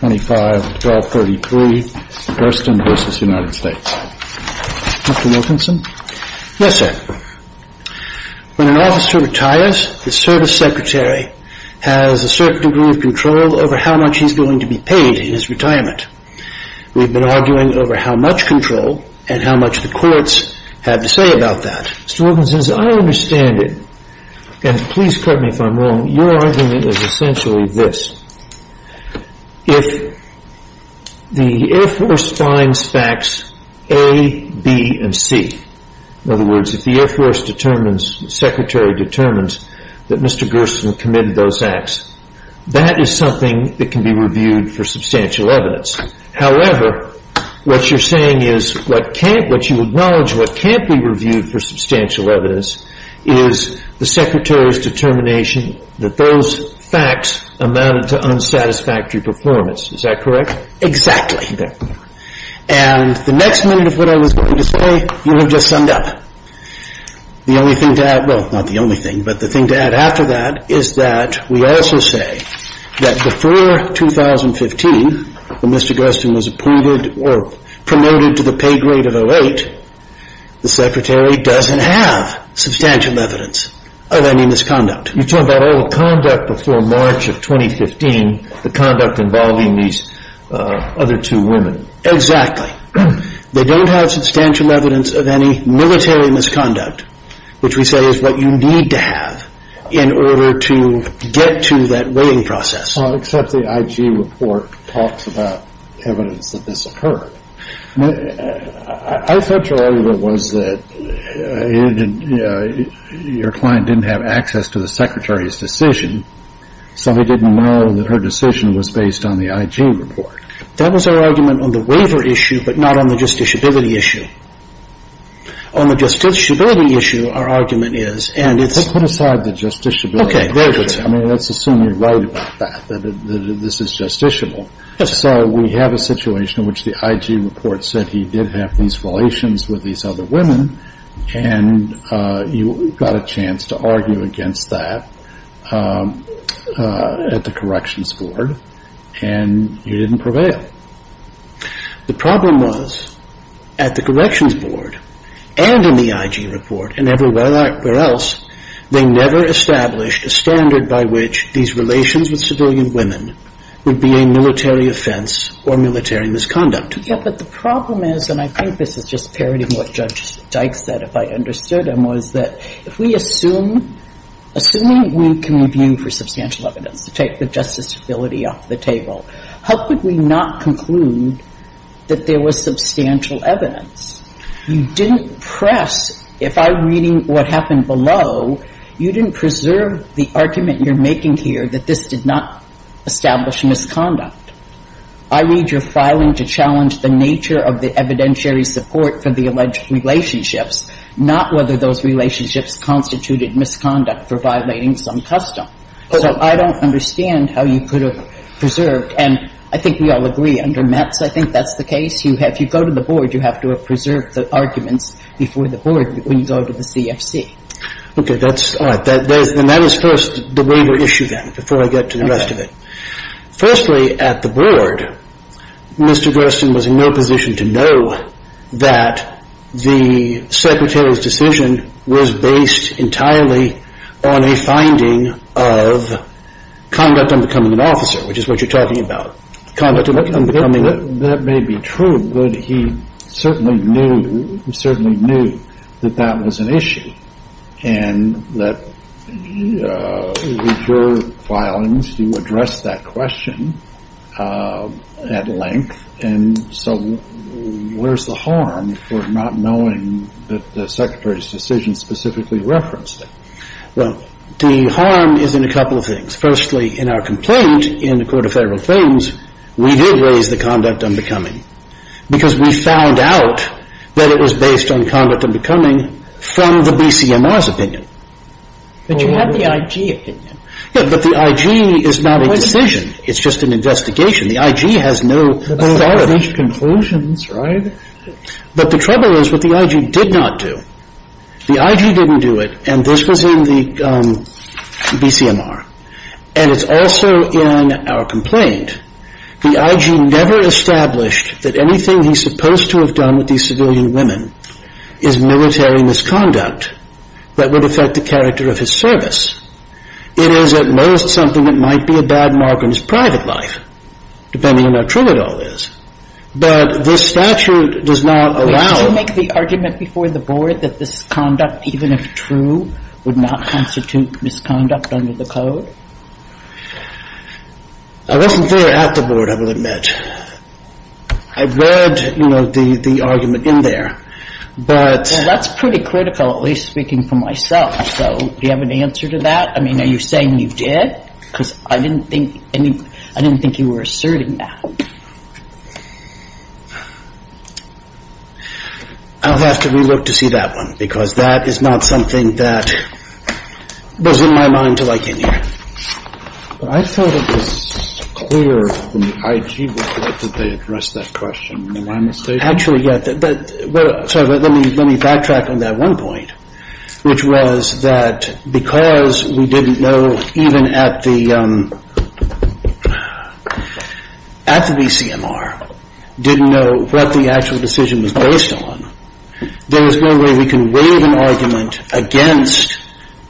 When an officer retires, the service secretary has a certain degree of control over how much he is going to be paid in his retirement. We have been arguing over how much control and how much the courts have to say about that. Mr. Wilkinson, as I understand it, and please pardon me if I am wrong, your argument is essentially this, if the Air Force finds facts A, B, and C, in other words, if the Air Force determines, the secretary determines, that Mr. Gerson committed those acts, that is something that can be reviewed for substantial evidence. However, what you are saying is, what you acknowledge what can't be reviewed for substantial amounted to unsatisfactory performance. Is that correct? Exactly. And the next minute of what I was going to say, you have just summed up. The only thing to add, well, not the only thing, but the thing to add after that is that we also say that before 2015, when Mr. Gerson was approved or promoted to the pay grade of 08, the secretary doesn't have substantial evidence of any misconduct. You are talking about all the conduct before March of 2015, the conduct involving these other two women. Exactly. They don't have substantial evidence of any military misconduct, which we say is what you need to have in order to get to that weighting process. Well, except the IG report talks about evidence that this occurred. I thought your argument was that your client didn't have access to the secretary's decision, so he didn't know that her decision was based on the IG report. That was our argument on the waiver issue, but not on the justiciability issue. On the justiciability issue, our argument is, and it's Well, put aside the justiciability issue. Very good. I mean, let's assume you are right about that, that this is justiciable. We have a situation in which the IG report said he did have these relations with these other women, and you got a chance to argue against that at the corrections board, and you didn't prevail. The problem was, at the corrections board, and in the IG report, and everywhere else, they never established a standard by which these relations with civilian women would be a military offense or military misconduct. Yeah, but the problem is, and I think this is just parodying what Judge Dyke said, if I understood him, was that if we assume, assuming we can review for substantial evidence to take the justiciability off the table, how could we not conclude that there was substantial evidence? You didn't press, if I'm reading what happened below, you didn't preserve the argument you're making here that this did not establish misconduct. I read your filing to challenge the nature of the evidentiary support for the alleged relationships, not whether those relationships constituted misconduct for violating some custom. So I don't understand how you could have preserved, and I think we all agree under Metz, I think that's the case, if you go to the board, you have to have preserved the arguments before the board when you go to the CFC. Okay. And that is first the waiver issue then, before I get to the rest of it. Firstly at the board, Mr. Gersten was in no position to know that the Secretary's decision was based entirely on a finding of conduct on becoming an officer, which is what you're talking about. That may be true, but he certainly knew that that was an issue. And that with your filings, you addressed that question at length, and so where's the harm for not knowing that the Secretary's decision specifically referenced it? Well, the harm is in a couple of things. Firstly, in our complaint in the Court of Federal Things, we did raise the conduct on becoming from the BCMR's opinion. But you have the IG opinion. Yeah, but the IG is not a decision. It's just an investigation. The IG has no authority. But there are such conclusions, right? But the trouble is what the IG did not do. The IG didn't do it, and this was in the BCMR, and it's also in our complaint. The IG never established that anything he's supposed to have done with these civilian women is military misconduct that would affect the character of his service. It is, at most, something that might be a bad mark on his private life, depending on how true it all is. But this statute does not allow – Wait, did you make the argument before the Board that this conduct, even if true, would not constitute misconduct under the Code? I wasn't there at the Board, I will admit. I read the argument in there, but – Well, that's pretty critical, at least speaking for myself. So do you have an answer to that? I mean, are you saying you did? Because I didn't think you were asserting that. I'll have to re-look to see that one, because that is not something that was in my mind until I came here. But I thought it was clear from the IG report that they addressed that question, am I mistaken? Actually, yeah. Sorry, but let me backtrack on that one point, which was that because we didn't know, even at the BCMR, didn't know what the actual decision was based on, there was no way we can waive an argument against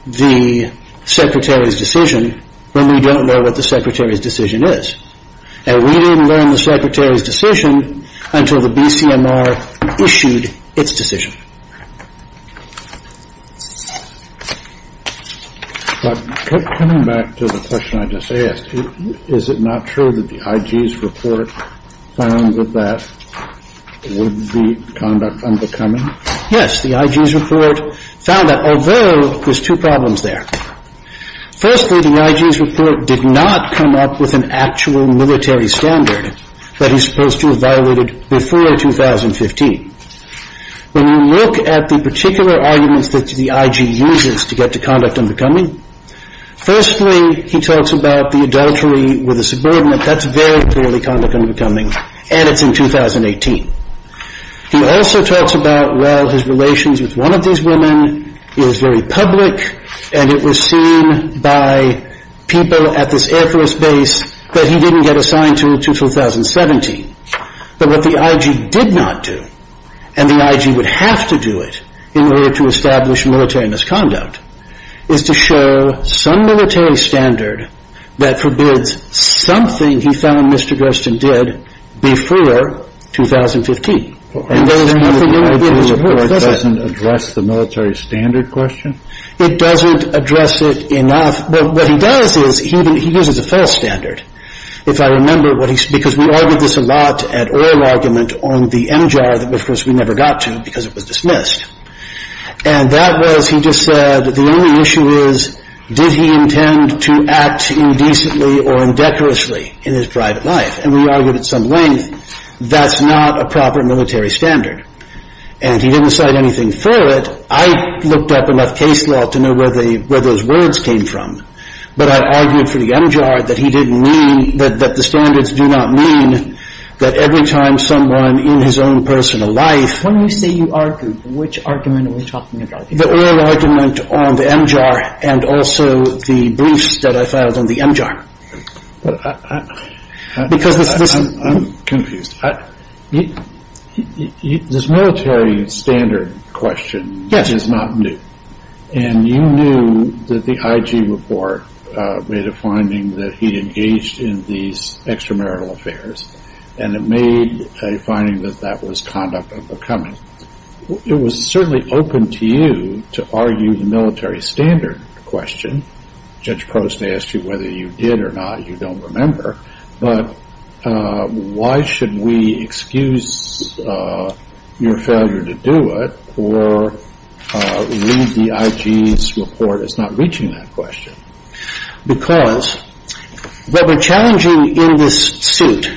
the Secretary's decision when we don't know what the Secretary's decision is. And we didn't learn the Secretary's decision until the BCMR issued its decision. But coming back to the question I just asked, is it not true that the IG's report found that that would be conduct unbecoming? Yes, the IG's report found that, although there's two problems there. Firstly, the IG's report did not come up with an actual military standard that he's supposed to have violated before 2015. When you look at the particular arguments that the IG uses to get to conduct unbecoming, firstly, he talks about the adultery with a subordinate. That's very clearly conduct unbecoming, and it's in 2018. He also talks about, well, his relations with one of these women is very public, and it was seen by people at this Air Force base that he didn't get assigned to, to 2017. But what the IG did not do, and the IG would have to do it in order to establish military misconduct, is to show some military standard that forbids something he found Mr. Gersten did before 2015. And there is nothing in the IG's report that doesn't address the military standard question? It doesn't address it enough. What he does is, he uses a false standard, if I remember, because we argued this a lot at oral argument on the MJAR that, of course, we never got to because it was dismissed. And that was, he just said, the only issue is, did he intend to act indecently or indecorously in his private life? And we argued at some length, that's not a proper military standard. And he didn't cite anything for it. I looked up enough case law to know where those words came from. But I argued for the MJAR that he didn't mean, that the standards do not mean that every time someone in his own personal life... When you say you argued, which argument were you talking about? The oral argument on the MJAR and also the briefs that I filed on the MJAR. I'm confused. This military standard question is not new. And you knew that the IG report made a finding that he engaged in these extramarital affairs. And it made a finding that that was conduct of the coming. It was certainly open to you to argue the military standard question. Judge Prost asked you whether you did or not. You don't remember. But why should we excuse your failure to do it or leave the IG's report as not reaching that question? Because what we're challenging in this suit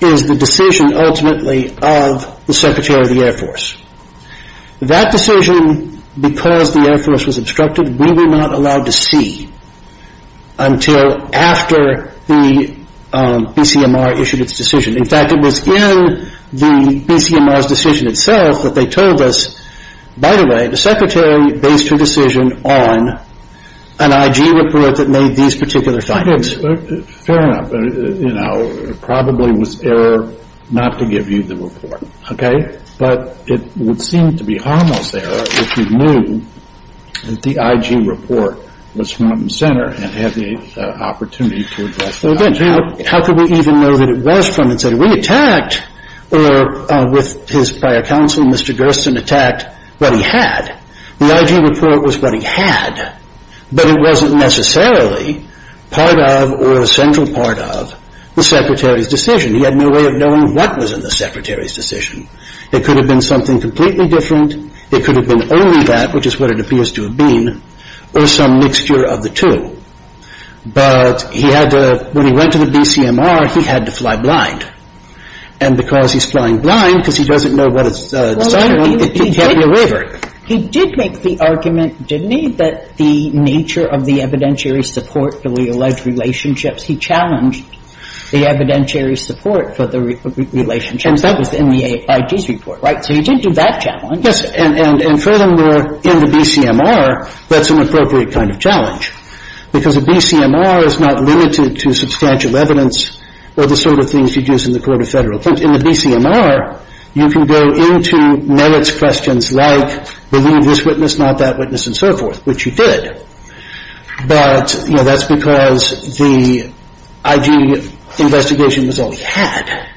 is the decision ultimately of the Secretary of the Air Force. That decision, because the Air Force was obstructed, we were not allowed to see until after the BCMR issued its decision. In fact, it was in the BCMR's decision itself that they told us, by the way, the Secretary based her decision on an IG report that made these particular findings. Fair enough. It probably was error not to give you the report. Okay? But it would seem to be almost error if you knew that the IG report was from the center and had the opportunity to address that. So again, how could we even know that it was from the center? We attacked, or with his prior counsel, Mr. Gerstin attacked what he had. The IG report was what he had, but it wasn't necessarily part of or a central part of the Secretary's decision. He had no way of knowing what was in the Secretary's decision. It could have been something completely different. It could have been only that, which is what it appears to have been, or some mixture of the two. But he had to, when he went to the BCMR, he had to fly blind. And because he's flying blind, because he doesn't know what it's deciding on, it kept him away from it. He did make the argument, didn't he, that the nature of the evidentiary support for the alleged relationships, he challenged the evidentiary support for the relationships. That was in the IG's report, right? So he did do that challenge. And furthermore, in the BCMR, that's an appropriate kind of challenge, because the BCMR is not limited to substantial evidence or the sort of things you'd use in the court of Federal. In the BCMR, you can go into merits questions like, believe this witness, not that witness, and so forth, which you did. But, you know, that's because the IG investigation was all he had.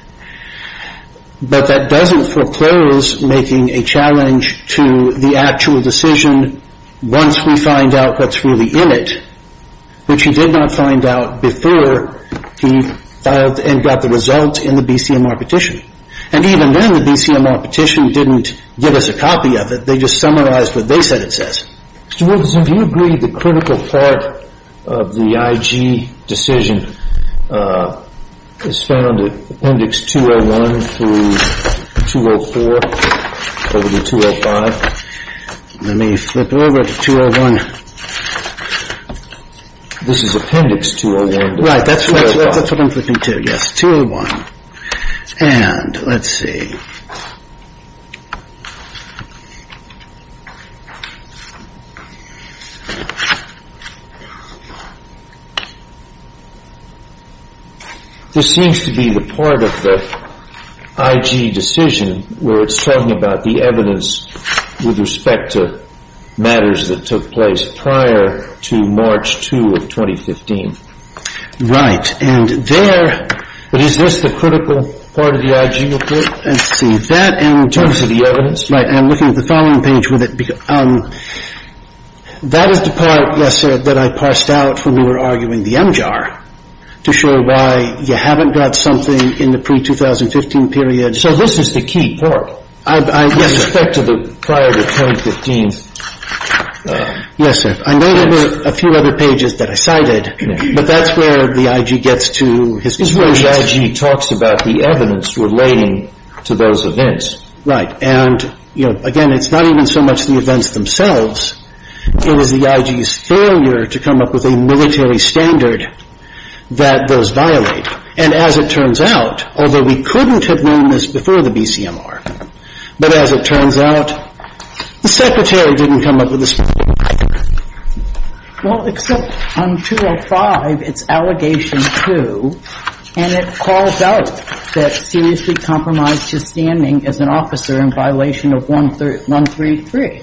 But that doesn't foreclose making a challenge to the actual decision once we find out what's really in it, which he did not find out before he filed and got the results in the BCMR petition. And even then, the BCMR petition didn't give us a copy of it. They just summarized what they said it says. Mr. Wilkerson, do you agree the critical part of the IG decision is found in Appendix 201 through 204, over to 205? Let me flip over to 201. This is Appendix 201. Right, that's what I'm flipping to, yes. 201. And let's see. This seems to be the part of the IG decision where it's talking about the evidence with respect to matters that took place prior to March 2 of 2015. And there, but is this the critical part of the IG report? Let's see. That and just... In terms of the evidence. Right. I'm looking at the following page with it. That is the part, yes, sir, that I parsed out when we were arguing the MJAR to show why you haven't got something in the pre-2015 period. So this is the key part. Yes, sir. With respect to the prior to 2015. Yes, sir. I may have a few other pages that I cited, but that's where the IG gets to his conclusions. This is where the IG talks about the evidence relating to those events. Right. And, you know, again, it's not even so much the events themselves. It was the IG's failure to come up with a military standard that those violate. And as it turns out, although we couldn't have known this before the BCMR, but as it turns out, the Secretary didn't come up with a standard. Well, except on 205, it's allegation two, and it calls out that seriously compromised his standing as an officer in violation of 133.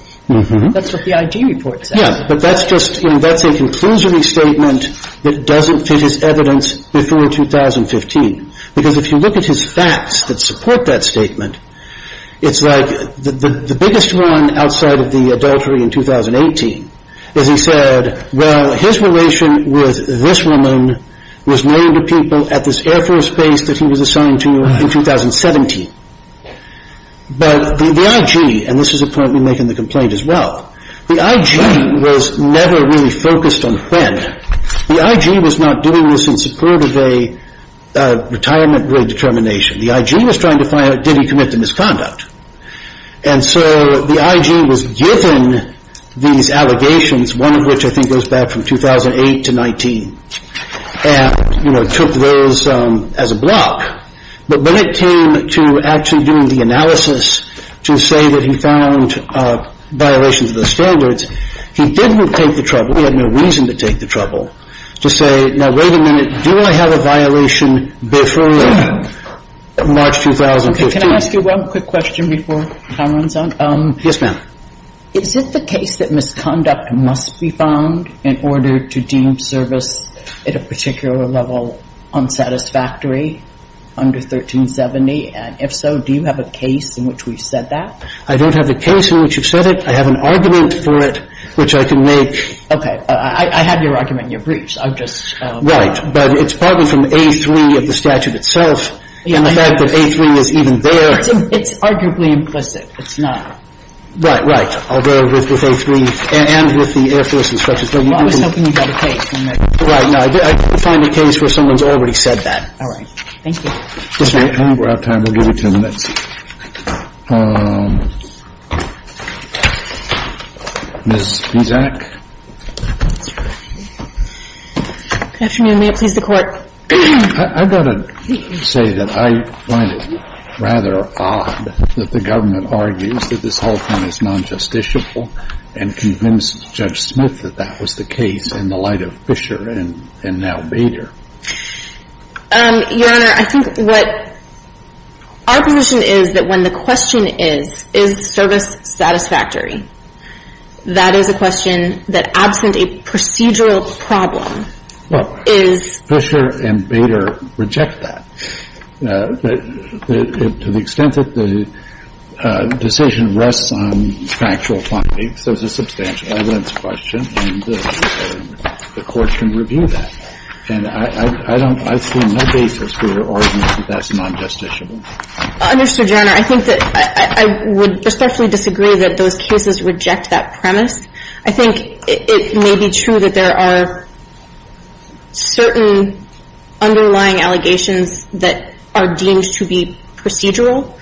That's what the IG report says. Yes. But that's just, you know, that's a conclusory statement that doesn't fit his evidence before 2015. Because if you look at his facts that support that statement, it's like the biggest one outside of the adultery in 2018 is he said, well, his relation with this woman was known to people at this Air Force base that he was assigned to in 2017. But the IG, and this is apparently making the complaint as well, the IG was never really focused on when. The IG was not doing this in support of a retirement grade determination. The IG was trying to find out, did he commit the misconduct? And so the IG was given these allegations, one of which I think goes back from 2008 to 19, and, you know, took those as a block. But when it came to actually doing the analysis to say that he found violations of the standards, he didn't take the trouble. He had no reason to take the trouble to say, now, wait a minute, do I have a violation before March 2015? Can I ask you one quick question before time runs out? Yes, ma'am. Is it the case that misconduct must be found in order to deem service at a particular level unsatisfactory under 1370? And if so, do you have a case in which we've said that? I don't have a case in which you've said it. I have an argument for it, which I can make. I have your argument in your briefs. I've just. Right. But it's partly from A3 of the statute itself. And the fact that A3 is even there. It's arguably implicit. It's not. Right, right. Although with A3 and with the Air Force instructions. Well, I was hoping you'd have a case. Right. No, I can't find a case where someone's already said that. All right. Thank you. We're out of time. We'll give you two minutes. Ms. Pizak. Good afternoon. May it please the Court. I've got to say that I find it rather odd that the government argues that this whole thing is non-justiciable and convinced Judge Smith that that was the case in the light of Fisher and now Bader. Your Honor, I think what our position is that when the question is, is the service satisfactory, that is a question that absent a procedural problem is. Well, Fisher and Bader reject that. To the extent that the decision rests on factual findings, there's a substantial evidence question. And the Court can review that. And I don't see no basis for your argument that that's non-justiciable. Your Honor, I think that I would respectfully disagree that those cases reject that premise. I think it may be true that there are certain underlying allegations that are deemed to be procedural.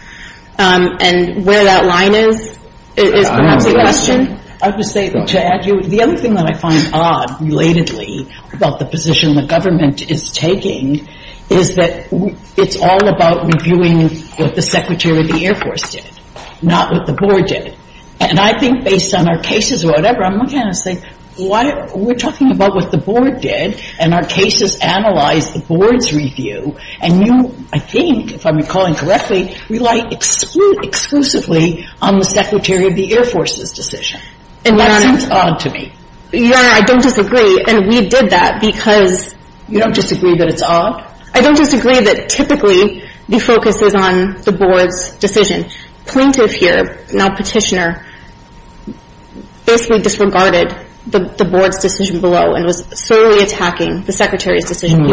And where that line is is perhaps a question. I would say, to add to you, the other thing that I find odd relatedly about the position the government is taking is that it's all about reviewing what the Secretary of the Air Force did, not what the Board did. And I think based on our cases or whatever, I'm looking at this thing, we're talking about what the Board did and our cases analyze the Board's review. And you, I think, if I'm recalling correctly, rely exclusively on the Secretary of the Air Force's decision. And that seems odd to me. Your Honor, I don't disagree. And we did that because you don't disagree that it's odd? I don't disagree that typically the focus is on the Board's decision. Plaintiff here, now Petitioner, basically disregarded the Board's decision below and was solely attacking the Secretary's decision. What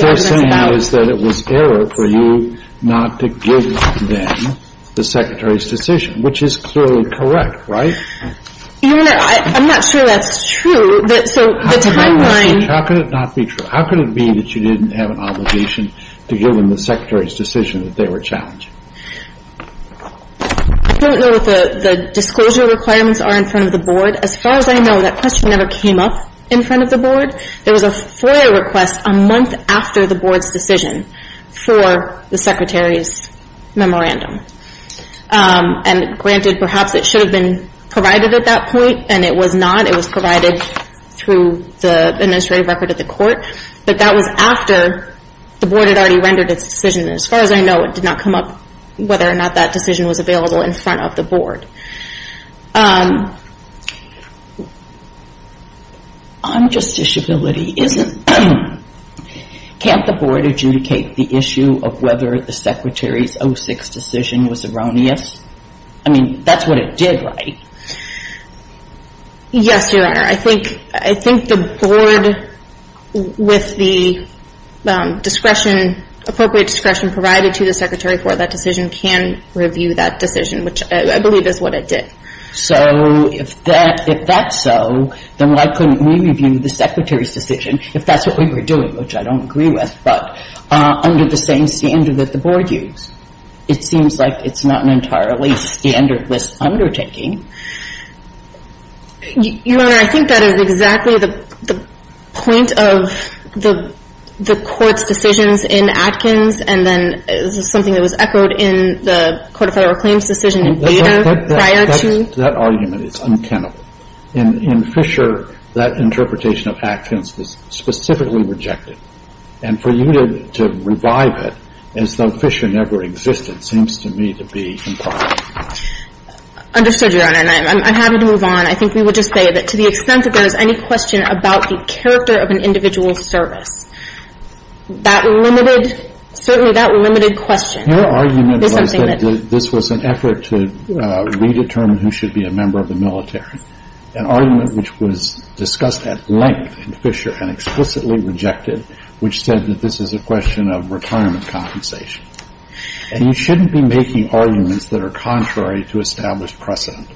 they're saying is that it was error for you not to give them the Secretary's decision, which is clearly correct, right? Your Honor, I'm not sure that's true. How could it not be true? How could it be that you didn't have an obligation to give them the Secretary's decision that they were challenged? I don't know what the disclosure requirements are in front of the Board. As far as I know, that question never came up in front of the Board. There was a FOIA request a month after the Board's decision for the Secretary's memorandum. And granted, perhaps it should have been provided at that point, and it was not. It was provided through the administrative record at the court. But that was after the Board had already rendered its decision. And as far as I know, it did not come up whether or not that decision was available in front of the Board. On justiciability, can't the Board adjudicate the issue of whether the Secretary's 06 decision was erroneous? I mean, that's what it did, right? Yes, Your Honor. I think the Board, with the appropriate discretion provided to the Secretary for that decision, can review that decision, which I believe is what it did. So if that's so, then why couldn't we review the Secretary's decision, if that's what we were doing, which I don't agree with, but under the same standard that the Board used? It seems like it's not an entirely standardless undertaking. Your Honor, I think that is exactly the point of the Court's decisions in Atkins, and then this is something that was echoed in the Court of Federal Claims decision in Bader prior to you. But that argument is untenable. In Fisher, that interpretation of Atkins was specifically rejected. And for you to revive it as though Fisher never existed seems to me to be improper. Understood, Your Honor. And I'm happy to move on. I think we would just say that to the extent that there is any question about the character of an individual's service, that limited – certainly that limited question is something that – Your argument was that this was an effort to redetermine who should be a member of the military, an argument which was discussed at length in Fisher and explicitly rejected, which said that this is a question of retirement compensation. And you shouldn't be making arguments that are contrary to established precedent.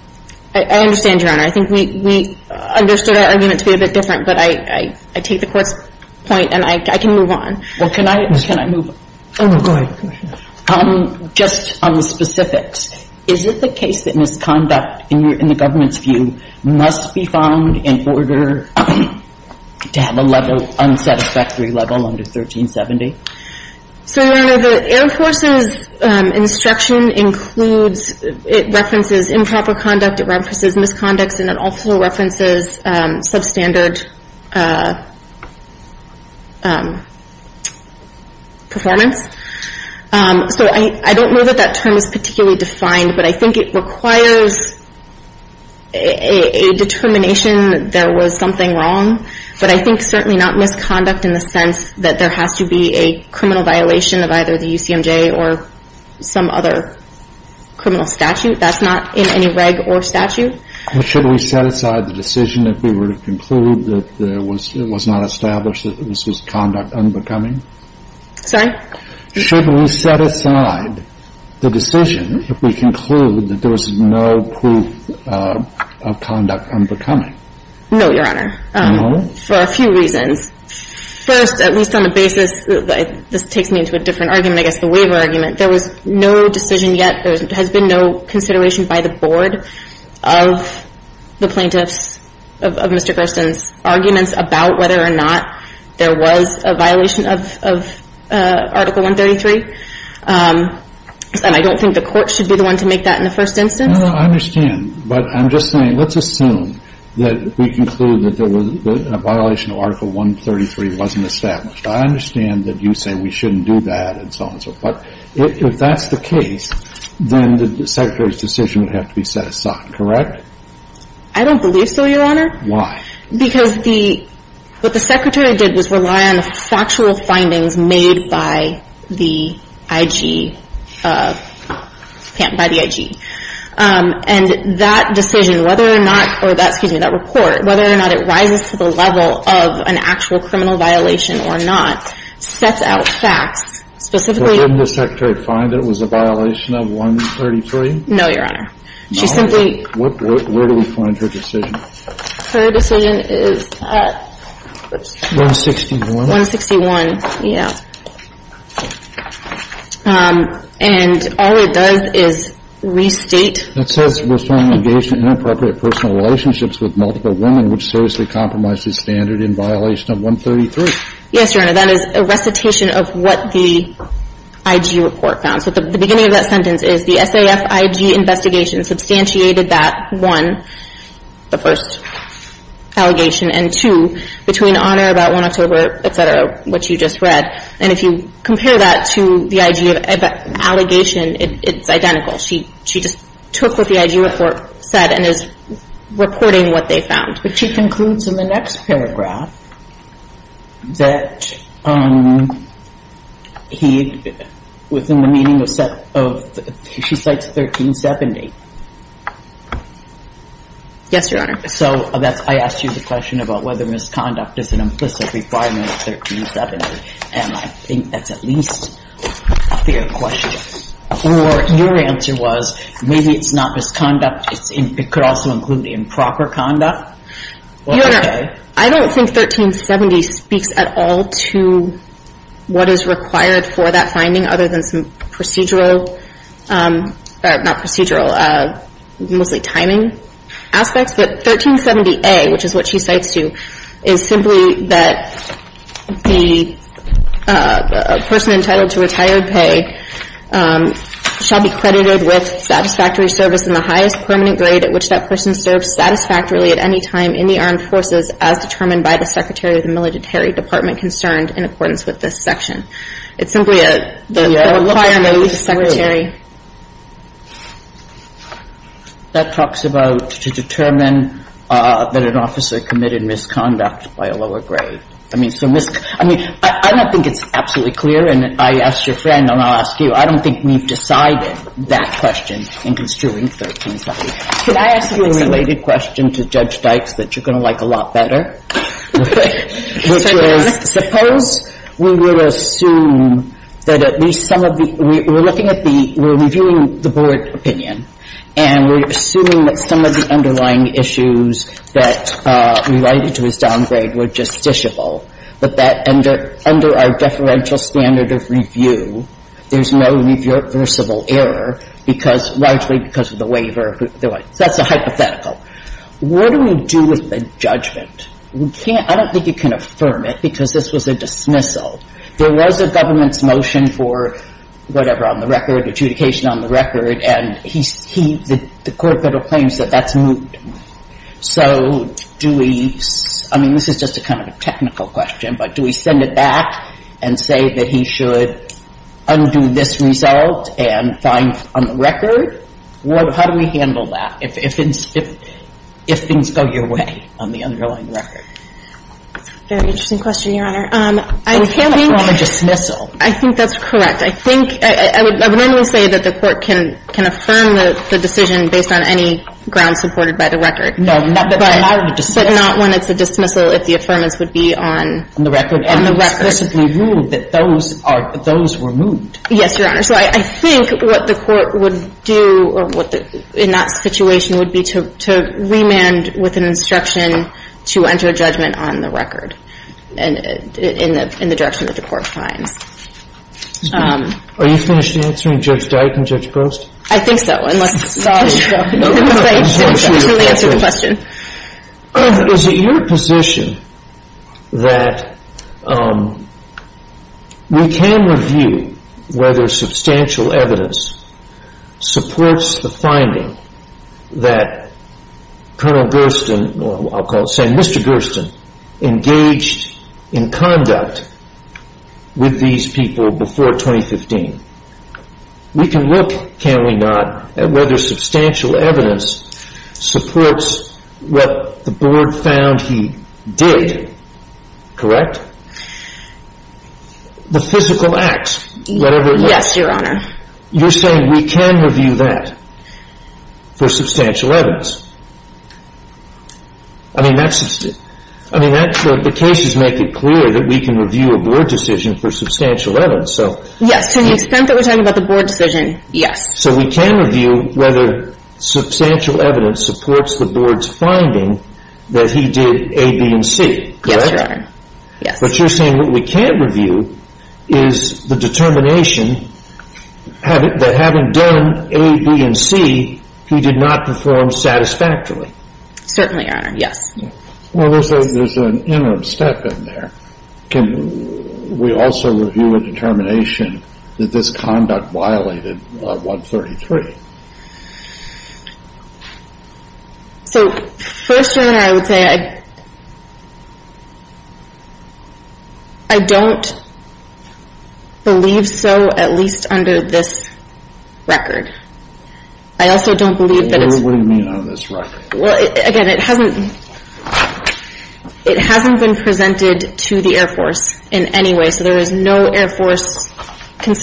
I understand, Your Honor. I think we understood our argument to be a bit different, but I take the Court's point and I can move on. Well, can I move on? Oh, go ahead. Just on the specifics, is it the case that misconduct, in the government's view, must be found in order to have a level – unsatisfactory level under 1370? So, Your Honor, the Air Force's instruction includes – it references improper conduct, it references misconduct, and it also references substandard performance. So I don't know that that term is particularly defined, but I think it requires a determination there was something wrong, but I think certainly not misconduct in the sense that there has to be a criminal violation of either the UCMJ or some other criminal statute. That's not in any reg or statute. Should we set aside the decision if we were to conclude that there was – it was not established that this was conduct unbecoming? Sorry? Should we set aside the decision if we conclude that there was no proof of conduct unbecoming? No, Your Honor. No? For a few reasons. First, at least on the basis – this takes me into a different argument, I guess, the waiver argument. There was no decision yet – there has been no consideration by the Board of the plaintiffs of Mr. Gersten's arguments about whether or not there was a violation of Article 133. And I don't think the Court should be the one to make that in the first instance. No, no, I understand. But I'm just saying let's assume that we conclude that there was – that a violation of Article 133 wasn't established. I understand that you say we shouldn't do that and so on and so forth, but if that's the case, then the Secretary's decision would have to be set aside, correct? I don't believe so, Your Honor. Why? Because the – what the Secretary did was rely on the factual findings made by the IG – by the IG. And that decision, whether or not – or that, excuse me, that report, whether or not it rises to the level of an actual criminal violation or not, sets out facts, specifically – But didn't the Secretary find it was a violation of 133? No, Your Honor. She simply – Where do we find her decision? Her decision is at – 161? 161. Yeah. And all it does is restate – It says we're strongly engaged in inappropriate personal relationships with multiple women, which seriously compromises standard in violation of 133. Yes, Your Honor. That is a recitation of what the IG report found. So at the beginning of that sentence is, the SAF IG investigation substantiated that, one, the first allegation, and two, between Honor about 1 October, et cetera, which you just read. And if you compare that to the IG allegation, it's identical. She just took what the IG report said and is reporting what they found. But she concludes in the next paragraph that he, within the meaning of – she cites 1370. Yes, Your Honor. So I asked you the question about whether misconduct is an implicit requirement of 1370, and I think that's at least a fair question. Or your answer was maybe it's not misconduct, it could also include improper conduct? Your Honor, I don't think 1370 speaks at all to what is required for that finding other than some procedural – not procedural, mostly timing aspects. But 1370A, which is what she cites, too, is simply that the person entitled to retired pay shall be credited with satisfactory service in the highest permanent grade at which that person served satisfactorily at any time in the armed forces as determined by the Secretary of the Military Department concerned in accordance with this section. It's simply a requirement of the Secretary. That talks about to determine that an officer committed misconduct by a lower grade. I mean, I don't think it's absolutely clear, and I asked your friend and I'll ask you. I don't think we've decided that question in construing 1370. Could I ask you a related question to Judge Dykes that you're going to like a lot better? Which was suppose we were to assume that at least some of the – we're looking at the – we're reviewing the Board opinion, and we're assuming that some of the underlying issues that related to his downgrade were justiciable, but that under our deferential standard of review, there's no reversible error because – largely because of the waiver. That's a hypothetical. What do we do with the judgment? We can't – I don't think you can affirm it because this was a dismissal. There was a government's motion for whatever on the record, adjudication on the record, and he – he – the court could have claimed that that's moved. So do we – I mean, this is just a kind of a technical question, but do we send it back and say that he should undo this result and find on the record? How do we handle that if things go your way on the underlying record? That's a very interesting question, Your Honor. I can't think – It's not a dismissal. I think that's correct. I think – I would normally say that the court can – can affirm the decision based on any grounds supported by the record. No, not when it's a dismissal. But not when it's a dismissal if the affirmance would be on – On the record. On the record. And explicitly ruled that those are – that those were moved. Yes, Your Honor. So I think what the court would do or what the – in that situation would be to – to remand with an instruction to enter a judgment on the record and – in the direction that the court finds. Are you finished answering Judge Dyke and Judge Prost? I think so. Unless – I'm sorry. I didn't really answer the question. Is it your position that we can review whether substantial evidence supports the finding that Colonel Gersten – I'll call it – say Mr. Gersten engaged in conduct with these people before 2015? We can look, can we not, at whether substantial evidence supports what the board found he did, correct? The physical acts, whatever it might be. Yes, Your Honor. You're saying we can review that for substantial evidence. I mean, that's – I mean, the cases make it clear that we can review a board decision for substantial evidence, so – Yes, to the extent that we're talking about the board decision, yes. So we can review whether substantial evidence supports the board's finding that he did A, B, and C, correct? Yes, Your Honor. Yes. But you're saying what we can't review is the determination that having done A, B, and C, he did not perform satisfactorily. Certainly, Your Honor. Yes. Well, there's an interim step in there. Can we also review a determination that this conduct violated 133? So, first, Your Honor, I would say I don't believe so, at least under this record. I also don't believe that it's – What do you mean under this record? Well, again, it hasn't been presented to the Air Force in any way, so there is no Air We put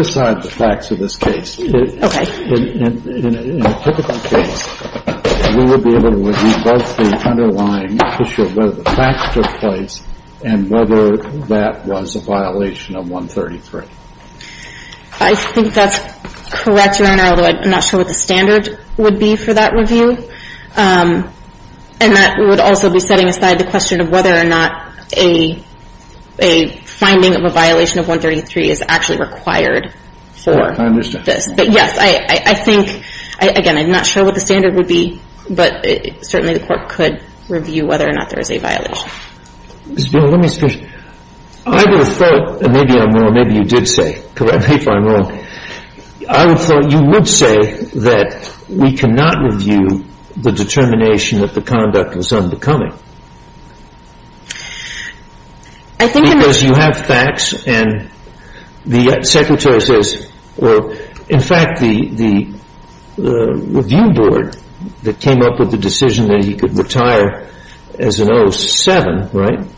aside the facts of this case. In a typical case, we would be able to review both the underlying issue of whether the facts took place and whether that was a violation of 133. I think that's correct, Your Honor, although I'm not sure what the standard would be for that review. And that would also be setting aside the question of whether or not a finding of a violation of 133 is actually required for this. But, yes, I think – again, I'm not sure what the standard would be, but certainly the court could review whether or not there is a violation. Ms. Buell, let me ask you a question. I would have thought – and maybe I'm wrong, maybe you did say, correct me if I'm wrong – I would have thought you would say that we cannot review the determination that the conduct was unbecoming. I think – Because you have facts and the Secretary says – well, in fact, the review board that came up with the decision that he could retire as an 07, right? Yes.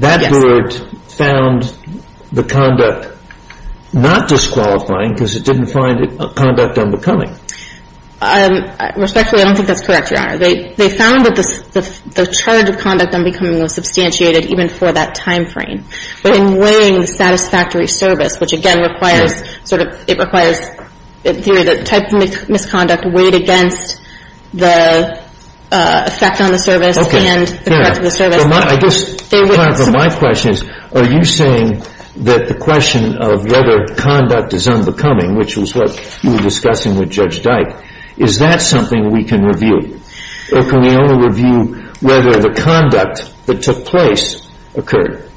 That board found the conduct not disqualifying because it didn't find the conduct unbecoming. Respectfully, I don't think that's correct, Your Honor. They found that the charge of conduct unbecoming was substantiated even for that timeframe. But in weighing the satisfactory service, which, again, requires – it requires the type of misconduct weighed against the effect on the service and the correct of the service – I guess, however, my question is, are you saying that the question of whether conduct is unbecoming, which was what you were discussing with Judge Dyke, is that something we can review? Or can we only review whether the conduct that took place occurred?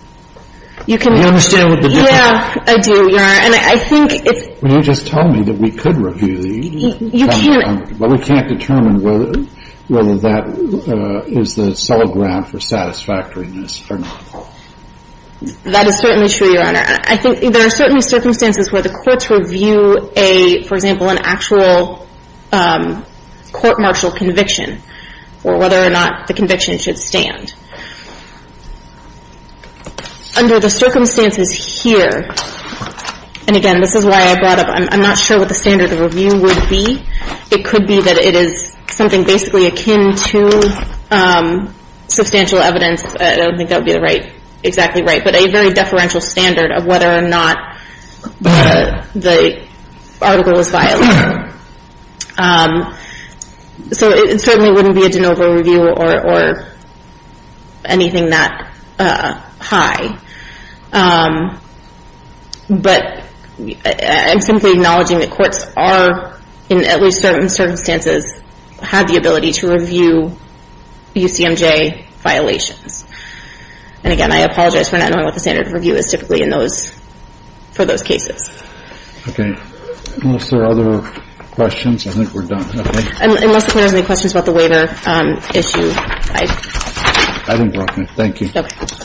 You can – Do you understand what the difference – Yeah, I do, Your Honor. And I think if – Well, you just told me that we could review the – You can't – Well, we can't determine whether that is the solid ground for satisfactoriness or not. That is certainly true, Your Honor. I think there are certainly circumstances where the courts review a – for example, an actual court-martial conviction or whether or not the conviction should stand. Under the circumstances here – and, again, this is why I brought up – I'm not sure what the standard of review would be. It could be that it is something basically akin to substantial evidence. I don't think that would be the right – exactly right. But a very deferential standard of whether or not the article was violated. So it certainly wouldn't be a de novo review or anything that high. But I'm simply acknowledging that courts are, in at least certain circumstances, have the ability to review UCMJ violations. And, again, I apologize for not knowing what the standard of review is typically in those – for those cases. Okay. Unless there are other questions, I think we're done. Okay. Unless there are any questions about the waiver issue, I – I think we're okay. Thank you. Okay.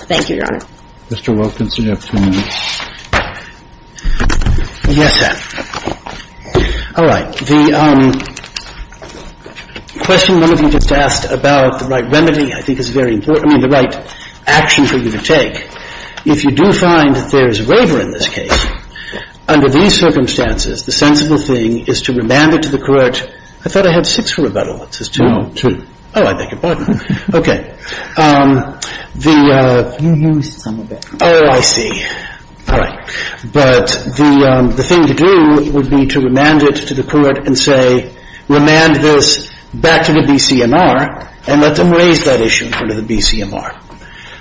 Thank you, Your Honor. Mr. Wilkins, you have two minutes. Yes, ma'am. All right. The question one of you just asked about the right remedy I think is very important – I mean, the right action for you to take. If you do find that there is a waiver in this case, under these circumstances, the sensible thing is to remand it to the court – I thought I had six rebuttals. It says two. No, two. Oh, I beg your pardon. Okay. The – You used some of it. Oh, I see. All right. But the thing to do would be to remand it to the court and say, remand this back to the BCMR and let them raise that issue in front of the BCMR.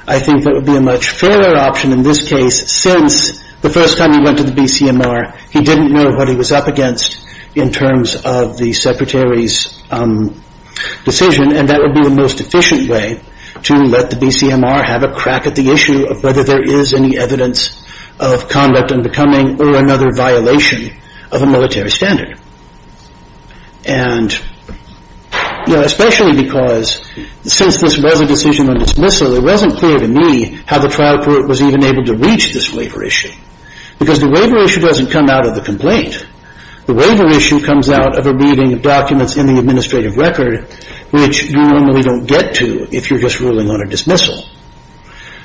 I think that would be a much fairer option in this case since the first time he went to the BCMR, he didn't know what he was up against in terms of the Secretary's decision, and that would be the most efficient way to let the BCMR have a crack at the issue of whether there is any evidence of conduct unbecoming or another violation of a military standard. And, you know, especially because since this was a decision on dismissal, it wasn't clear to me how the trial court was even able to reach this waiver issue because the waiver issue doesn't come out of the complaint. The waiver issue comes out of a reading of documents in the administrative record, which you normally don't get to if you're just ruling on a dismissal.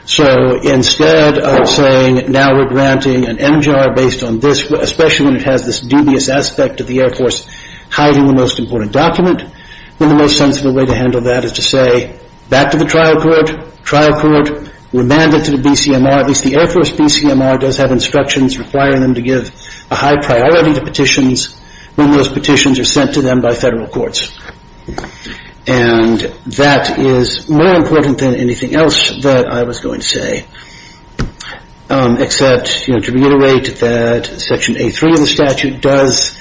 So instead of saying now we're granting an MGR based on this, especially when it has this dubious aspect of the Air Force hiding the most important document, then the most sensible way to handle that is to say back to the trial court, trial court, remand it to the BCMR. At least the Air Force BCMR does have instructions requiring them to give a high priority to petitions when those petitions are sent to them by federal courts. And that is more important than anything else that I was going to say, except to reiterate that Section A3 of the statute does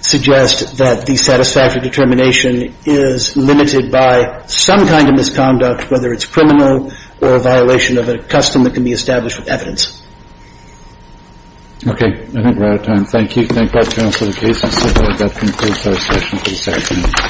suggest that the satisfactory determination is limited by some kind of misconduct, whether it's criminal or a violation of a custom that can be established with evidence. Okay, I think we're out of time. Thank you. Thank God for the case. And so that concludes our session for this afternoon.